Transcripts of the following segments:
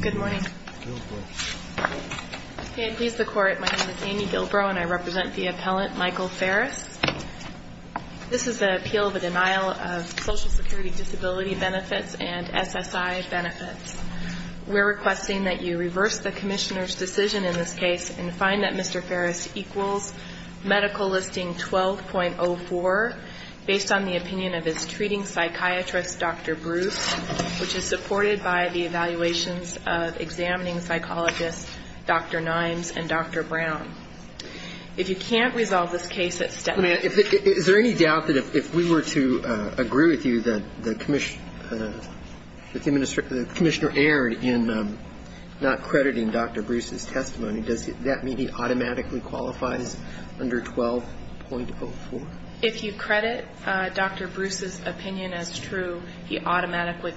Good morning. May it please the Court, my name is Amy Gilbrow and I represent the appellant Michael Farris. This is an appeal of a denial of Social Security Disability benefits and SSI benefits. We're requesting that you reverse the Commissioner's decision in this case and find that Mr. Farris equals medical listing 12.04, based on the opinion of his treating psychiatrist, Dr. Bruce, which is supported by the evaluations of examining psychologists, Dr. Nimes and Dr. Brown. If you can't resolve this case at step... Is there any doubt that if we were to agree with you that the Commissioner erred in not crediting Dr. Bruce's testimony, does that mean he automatically qualifies under 12.04? If you credit Dr. Bruce's opinion as true, he automatically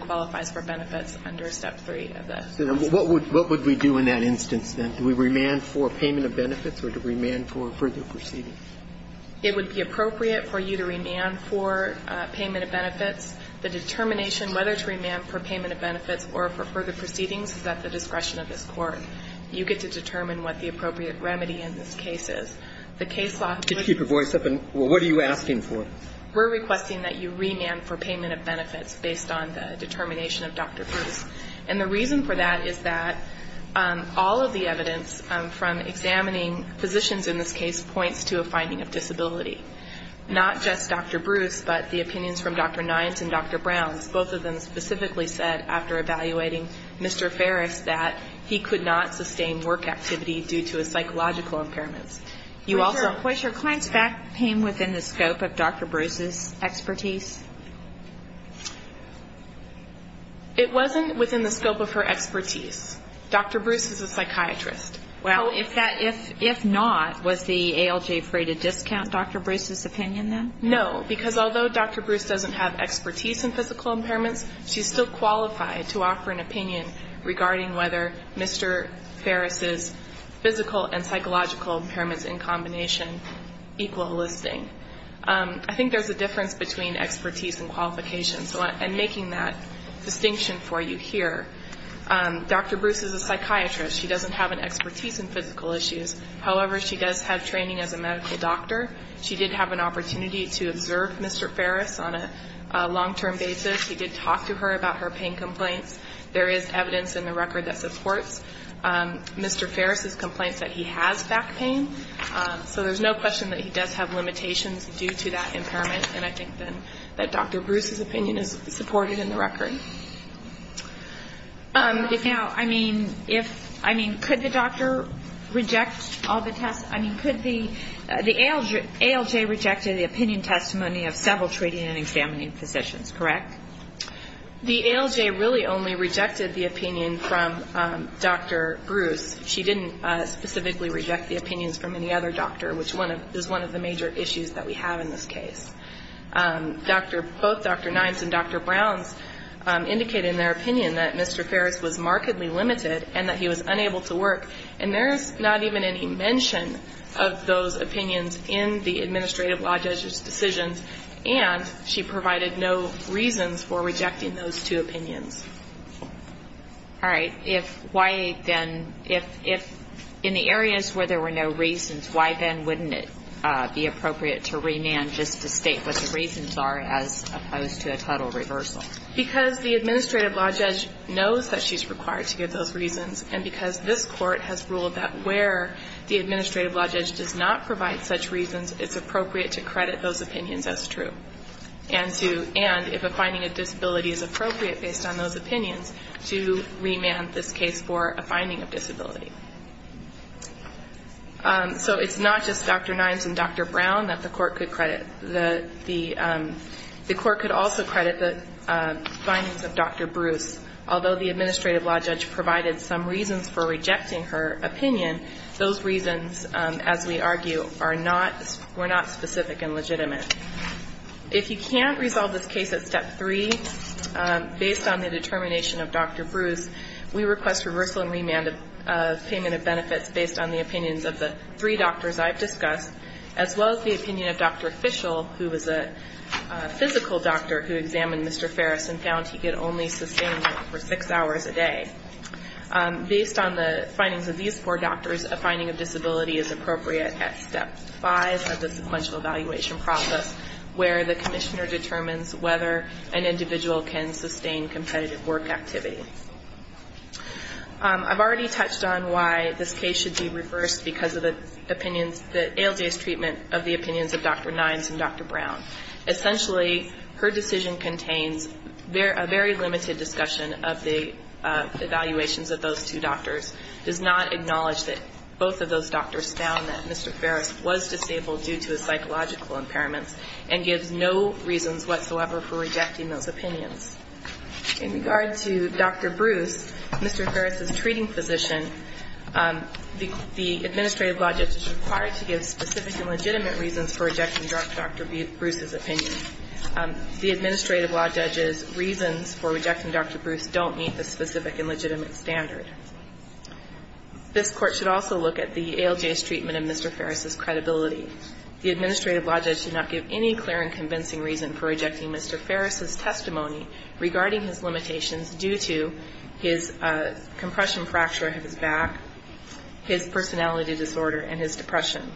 qualifies for benefits under step 3 of the... What would we do in that instance, then? Do we remand for payment of benefits or do we remand for further proceedings? It would be appropriate for you to remand for payment of benefits. The determination whether to remand for payment of benefits or for further proceedings is at the discretion of this Court. You get to determine what the appropriate remedy in this case is. The case law... Could you keep your voice up? What are you asking for? We're requesting that you remand for payment of benefits based on the determination of Dr. Bruce. And the reason for that is that all of the evidence from examining physicians in this case points to a finding of disability, not just Dr. Bruce, but the opinions from Dr. Nimes and Dr. Brown. Both of them specifically said after evaluating Mr. Farris that he could not sustain work activity due to his psychological impairments. Was your client's back pain within the scope of Dr. Bruce's expertise? It wasn't within the scope of her expertise. Dr. Bruce is a psychiatrist. Well, if not, was the ALJ free to discount Dr. Bruce's opinion, then? No, because although Dr. Bruce doesn't have expertise in physical impairments, she's still qualified to offer an opinion regarding whether Mr. Farris's physical and psychological impairments in combination equal listing. I think there's a difference between expertise and qualification, so I'm making that distinction for you here. Dr. Bruce is a psychiatrist. She doesn't have an expertise in physical issues. However, she does have training as a medical doctor. She did have an opportunity to observe Mr. Farris on a long-term basis. He did talk to her about her pain complaints. There is evidence in the record that supports Mr. Farris's complaints that he has back pain. So there's no question that he does have limitations due to that impairment, and I think then that Dr. Bruce's opinion is supported in the record. If now, I mean, could the doctor reject all the tests? I mean, could the ALJ reject the opinion testimony of several treating and examining physicians, correct? The ALJ really only rejected the opinion from Dr. Bruce. She didn't specifically reject the opinions from any other doctor, which is one of the major issues that we have in this case. Both Dr. Nimes and Dr. Browns indicated in their opinion that Mr. Farris was markedly limited and that he was unable to work, and there's not even any mention of those opinions in the administrative law judge's decisions, and she provided no reasons for rejecting those two opinions. All right. If why then, if in the areas where there were no reasons, why then wouldn't it be appropriate to remand just to state what the reasons are, as opposed to a total reversal? Because the administrative law judge knows that she's required to give those reasons, and because this court has ruled that where the administrative law judge does not provide such reasons, it's appropriate to credit those opinions as true, and if a finding of disability is appropriate based on those opinions, to remand this case for a finding of disability. So it's not just Dr. Nimes and Dr. Brown that the court could credit. The court could also credit the findings of Dr. Bruce. Although the administrative law judge provided some reasons for rejecting her opinion, those reasons, as we argue, are not, were not specific and legitimate. If you can't resolve this case at step three, based on the determination of Dr. Bruce, we request reversal and remand of payment of benefits based on the opinions of the three doctors I've discussed, as well as the opinion of Dr. Fishel, who was a physical doctor who examined Mr. Ferris and found he could only sustain him for six hours a day. Based on the findings of these four doctors, a finding of disability is appropriate at step five of the sequential evaluation process, where the commissioner determines whether an individual can sustain competitive work activity. I've already touched on why this case should be reversed because of the opinions, the ALJ's treatment of the opinions of Dr. Nimes and Dr. Brown. Essentially, her decision contains a very limited discussion of the evaluations of those two doctors, does not acknowledge that both of those doctors found that Mr. Ferris was disabled due to his psychological impairments, and gives no reasons whatsoever for rejecting those opinions. In regard to Dr. Bruce, Mr. Ferris's treating physician, the administrative law judge is required to give specific and legitimate reasons for rejecting Dr. Bruce's opinion. The administrative law judge's reasons for rejecting Dr. Bruce don't meet the specific and legitimate standard. This Court should also look at the ALJ's treatment of Mr. Ferris's credibility. The administrative law judge should not give any clear and convincing reason for rejecting Mr. Ferris's testimony regarding his limitations due to his compression fracture of his back, his personality disorder, and his depression.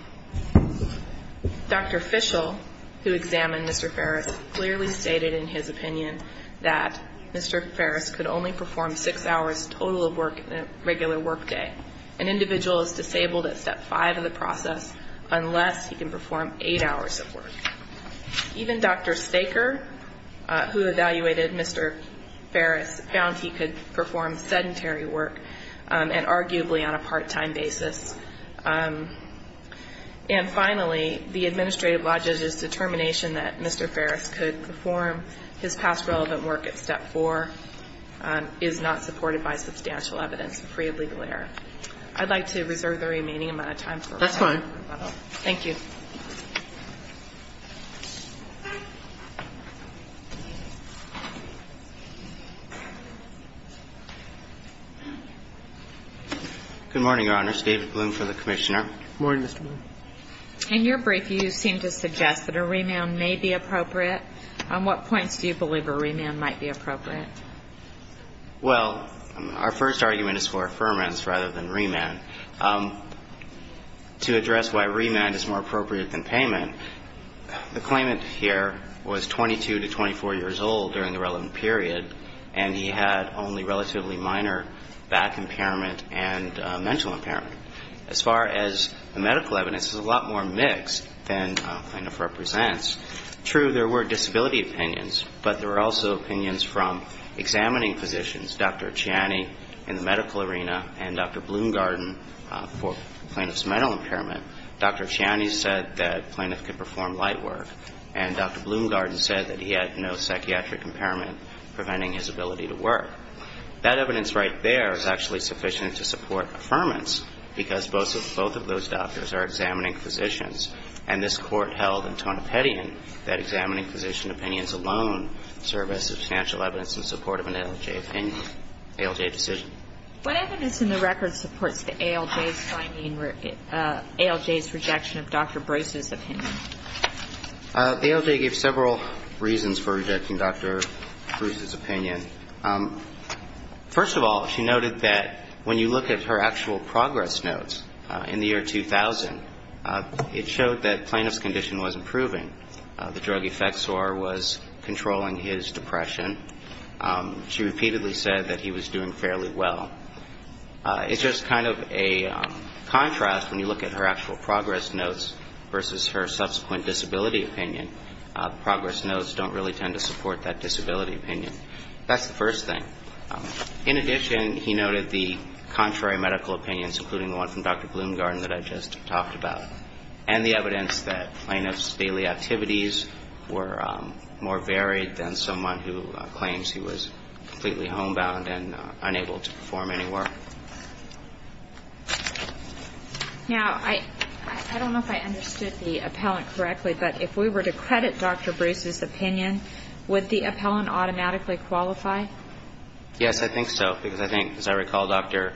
Dr. Fischel, who examined Mr. Ferris, clearly stated in his opinion that Mr. Ferris could only perform six hours total of work in a regular workday. An individual is disabled at step five of the process unless he can perform eight hours of work. Even Dr. Staker, who evaluated Mr. Ferris, found he could perform sedentary work, and arguably on a part-time basis. And finally, the administrative law judge's determination that Mr. Ferris could perform his past relevant work at step four is not supported by substantial evidence of free of legal error. I'd like to reserve the remaining amount of time for rebuttal. That's fine. Thank you. Good morning, Your Honors. David Bloom for the Commissioner. Good morning, Mr. Bloom. In your brief, you seem to suggest that a remand may be appropriate. On what points do you believe a remand might be appropriate? Well, our first argument is for affirmance rather than remand. To address why remand is more appropriate than payment, the claimant here was 22 to 24 years old during the relevant period, and he had only relatively minor back impairment and mental impairment. As far as the medical evidence, it's a lot more mixed than plaintiff represents. True, there were disability opinions, but there were also opinions from examining physicians, Dr. Ciani in the medical arena and Dr. Bloom-Garden for plaintiff's mental impairment. Dr. Ciani said that plaintiff could perform light work, and Dr. Bloom-Garden said that he had no psychiatric impairment preventing his ability to work. That evidence right there is actually sufficient to support affirmance because both of those doctors are examining physicians, and this Court held in Tonopetian that examining physician opinions alone serve as substantial evidence in support of an ALJ opinion, ALJ decision. What evidence in the record supports the ALJ's rejection of Dr. Bruce's opinion? The ALJ gave several reasons for rejecting Dr. Bruce's opinion. First of all, she noted that when you look at her actual progress notes in the year 2000, it showed that plaintiff's condition was improving. The drug effects sore was controlling his depression. She repeatedly said that he was doing fairly well. It's just kind of a contrast when you look at her actual progress notes versus her subsequent disability opinion. Progress notes don't really tend to support that disability opinion. That's the first thing. In addition, he noted the contrary medical opinions, including the one from Dr. Bloom-Garden that I just talked about, and the evidence that plaintiff's daily activities were more varied than someone who claims he was completely homebound and unable to perform any work. Now, I don't know if I understood the appellant correctly, but if we were to credit Dr. Bruce's opinion, would the appellant automatically qualify? Yes, I think so, because I think, as I recall, Dr.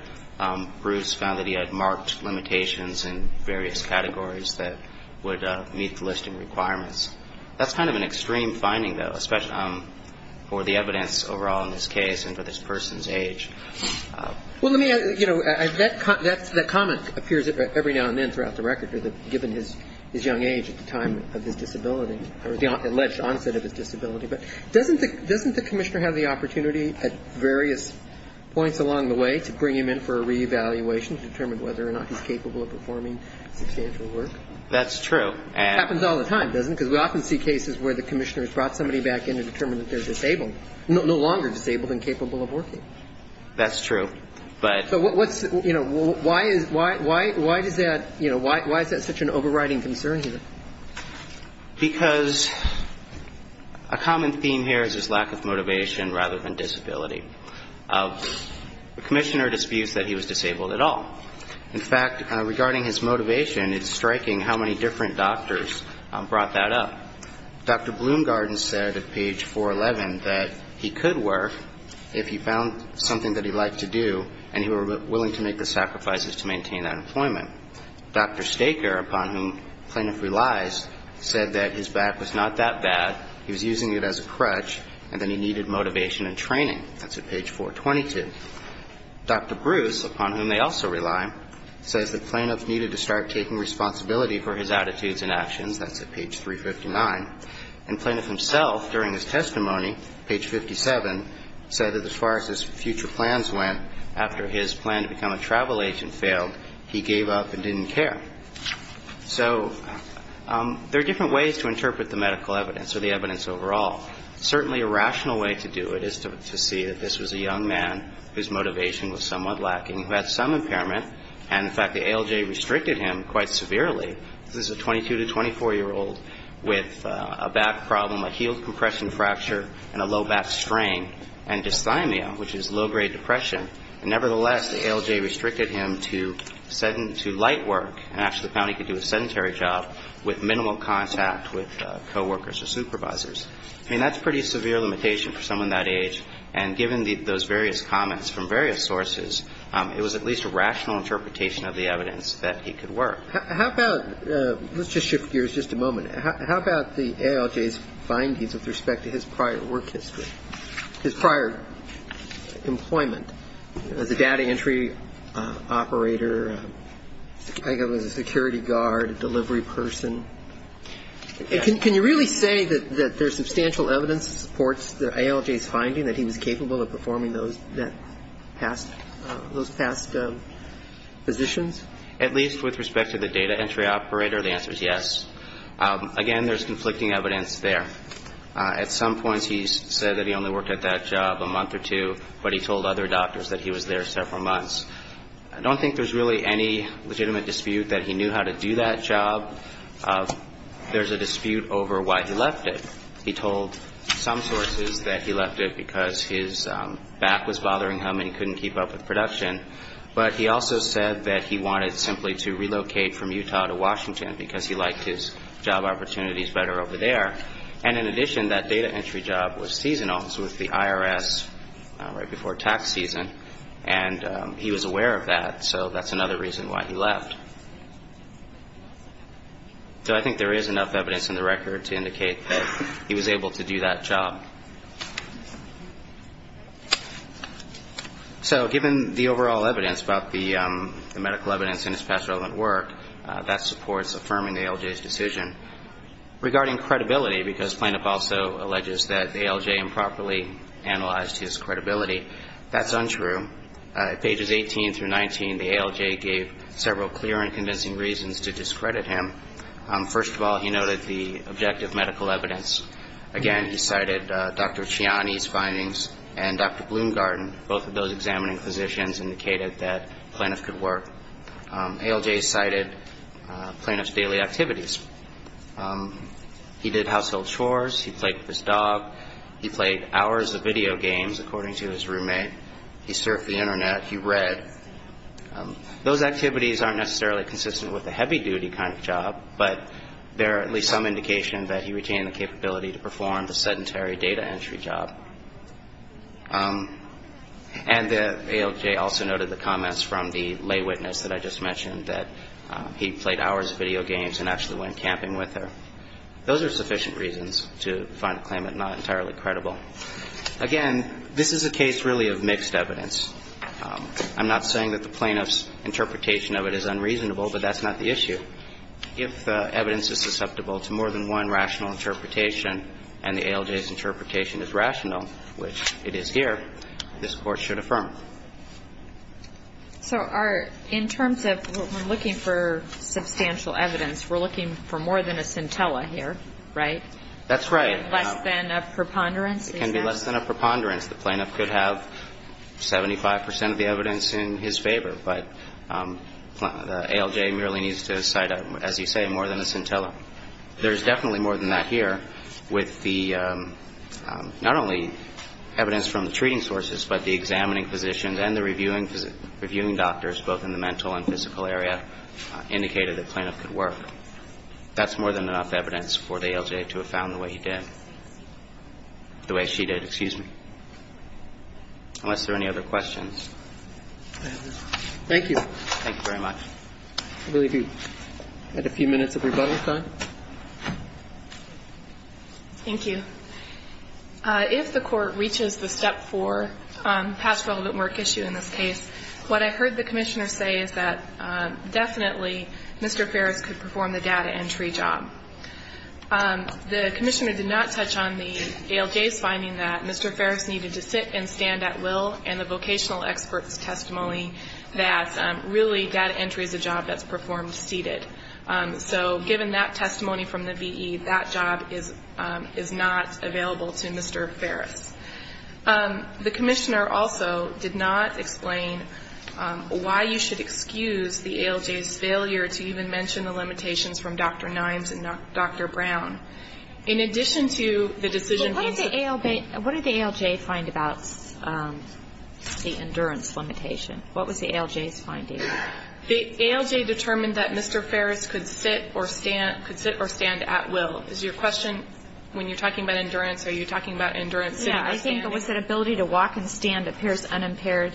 Bruce found that he had marked limitations in various categories that would meet the listing requirements. That's kind of an extreme finding, though, especially for the evidence overall in this case and for this person's age. Well, let me add, you know, that comment appears every now and then throughout the record, given his young age at the time of his disability or the alleged onset of his disability. But doesn't the commissioner have the opportunity at various points along the way to bring him in for a reevaluation to determine whether or not he's capable of performing substantial work? That's true. Happens all the time, doesn't it? Because we often see cases where the commissioner has brought somebody back in to determine that they're disabled, no longer disabled and capable of working. That's true. But why is that such an overriding concern here? Because a common theme here is his lack of motivation rather than disability. The commissioner disputes that he was disabled at all. In fact, regarding his motivation, it's striking how many different doctors brought that up. Dr. Bloomgarden said at page 411 that he could work if he found something that he liked to do and he were willing to make the sacrifices to maintain that employment. Dr. Staker, upon whom plaintiff relies, said that his back was not that bad, he was using it as a crutch, and that he needed motivation and training. That's at page 422. Dr. Bruce, upon whom they also rely, says that plaintiff needed to start taking responsibility for his attitudes and actions. That's at page 359. And plaintiff himself, during his testimony, page 57, said that as far as his future plans went, after his plan to become a travel agent failed, he gave up and didn't care. So there are different ways to interpret the medical evidence or the evidence overall. Certainly a rational way to do it is to see that this was a young man whose motivation was somewhat lacking, who had some impairment, and, in fact, the ALJ restricted him quite severely. This is a 22-to-24-year-old with a back problem, a heel compression fracture, and a low back strain, and dysthymia, which is low-grade depression. Nevertheless, the ALJ restricted him to light work, and actually found he could do a sedentary job with minimal contact with coworkers or supervisors. I mean, that's a pretty severe limitation for someone that age. And given those various comments from various sources, it was at least a rational interpretation of the evidence that he could work. How about the ALJ's findings with respect to his prior work history, his prior employment as a data entry operator, I think it was a security guard, a delivery person. Can you really say that there's substantial evidence that supports the ALJ's finding that he was capable of performing those past positions? At least with respect to the data entry operator, the answer is yes. Again, there's conflicting evidence there. At some points, he said that he only worked at that job a month or two, but he told other doctors that he was there several months. I don't think there's really any legitimate dispute that he knew how to do that job. There's a dispute over why he left it. He told some sources that he left it because his back was bothering him and he couldn't keep up with production. But he also said that he wanted simply to relocate from Utah to Washington because he liked his job opportunities better over there. And in addition, that data entry job was seasonal. So it was the IRS right before tax season. And he was aware of that. So that's another reason why he left. So I think there is enough evidence in the record to indicate that he was able to do that job. So given the overall evidence about the medical evidence and his past relevant work, that supports affirming the ALJ's decision. Regarding credibility, because plaintiff also alleges that the ALJ improperly analyzed his credibility, that's untrue. At pages 18 through 19, the ALJ gave several clear and convincing reasons to discredit him. First of all, he noted the objective medical evidence. Again, he cited Dr. Chiani's findings and Dr. Bloomgarten. Both of those examining physicians indicated that plaintiff could work. ALJ cited plaintiff's daily activities. He did household chores. He played with his dog. He played hours of video games, according to his roommate. He surfed the Internet. He read. Those activities aren't necessarily consistent with a heavy-duty kind of job, but there are at least some indication that he retained the capability to perform the sedentary data entry job. And the ALJ also noted the comments from the lay witness that I just mentioned, that he played hours of video games and actually went camping with her. Those are sufficient reasons to find the claimant not entirely credible. Again, this is a case really of mixed evidence. I'm not saying that the plaintiff's interpretation of it is unreasonable, but that's not the issue. If evidence is susceptible to more than one rational interpretation and the ALJ's interpretation is rational, which it is here, this Court should affirm it. So in terms of looking for substantial evidence, we're looking for more than a scintilla here, right? That's right. Less than a preponderance? It can be less than a preponderance. The plaintiff could have 75 percent of the evidence in his favor, but the ALJ merely needs to cite, as you say, more than a scintilla. There's definitely more than that here with the not only evidence from the treating sources, but the examining physicians and the reviewing doctors, both in the mental and physical area, indicated that plaintiff could work. That's more than enough evidence for the ALJ to have found the way he did. The way she did. Excuse me. Unless there are any other questions. Thank you. Thank you very much. I believe we had a few minutes of rebuttal time. Thank you. If the Court reaches the step 4, past relevant work issue in this case, what I heard the Commissioner say is that definitely Mr. Ferris could perform the data entry job. The Commissioner did not touch on the ALJ's finding that Mr. Ferris needed to sit and stand at will and the vocational expert's testimony that really data entry is a job that's performed seated. So given that testimony from the VE, that job is not available to Mr. Ferris. The Commissioner also did not explain why you should excuse the ALJ's failure to even mention the limitations from Dr. Nimes and Dr. Brown. In addition to the decision being to What did the ALJ find about the endurance limitation? What was the ALJ's finding? The ALJ determined that Mr. Ferris could sit or stand at will. Is your question, when you're talking about endurance, are you talking about endurance sitting or standing? Yeah, I think it was that ability to walk and stand appears unimpaired,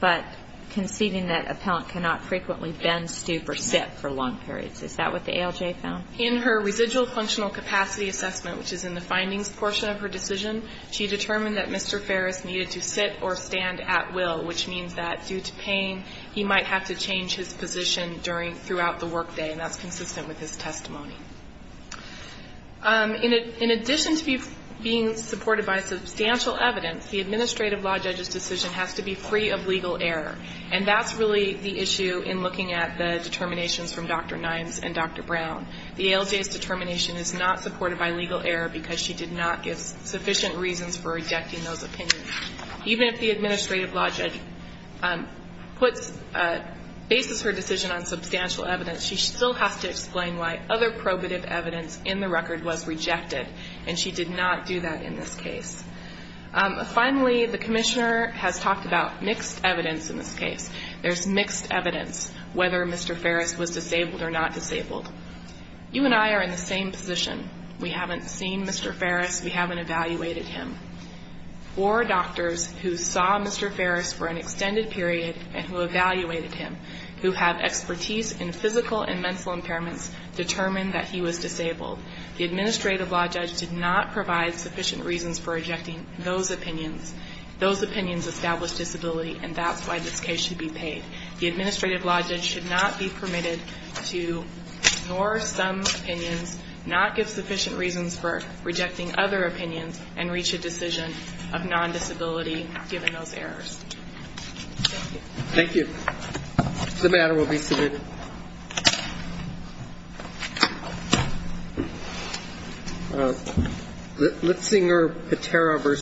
but conceding that an appellant cannot frequently bend, stoop, or sit for long periods. Is that what the ALJ found? In her residual functional capacity assessment, which is in the findings portion of her decision, she determined that Mr. Ferris needed to sit or stand at will, which means that due to pain he might have to change his position throughout the workday, and that's consistent with his testimony. In addition to being supported by substantial evidence, the administrative law judge's decision has to be free of legal error, and that's really the issue in looking at the determinations from Dr. Nimes and Dr. Brown. The ALJ's determination is not supported by legal error because she did not give sufficient reasons for rejecting those opinions. Even if the administrative law judge bases her decision on substantial evidence, she still has to explain why other probative evidence in the record was rejected, and she did not do that in this case. Finally, the commissioner has talked about mixed evidence in this case. There's mixed evidence whether Mr. Ferris was disabled or not disabled. You and I are in the same position. We haven't seen Mr. Ferris. We haven't evaluated him. Four doctors who saw Mr. Ferris for an extended period and who evaluated him, who have expertise in physical and mental impairments, determined that he was disabled. The administrative law judge did not provide sufficient reasons for rejecting those opinions. Those opinions established disability, and that's why this case should be paid. The administrative law judge should not be permitted to ignore some opinions, not give sufficient reasons for rejecting other opinions, and reach a decision of non-disability given those errors. Thank you. Thank you. The matter will be submitted.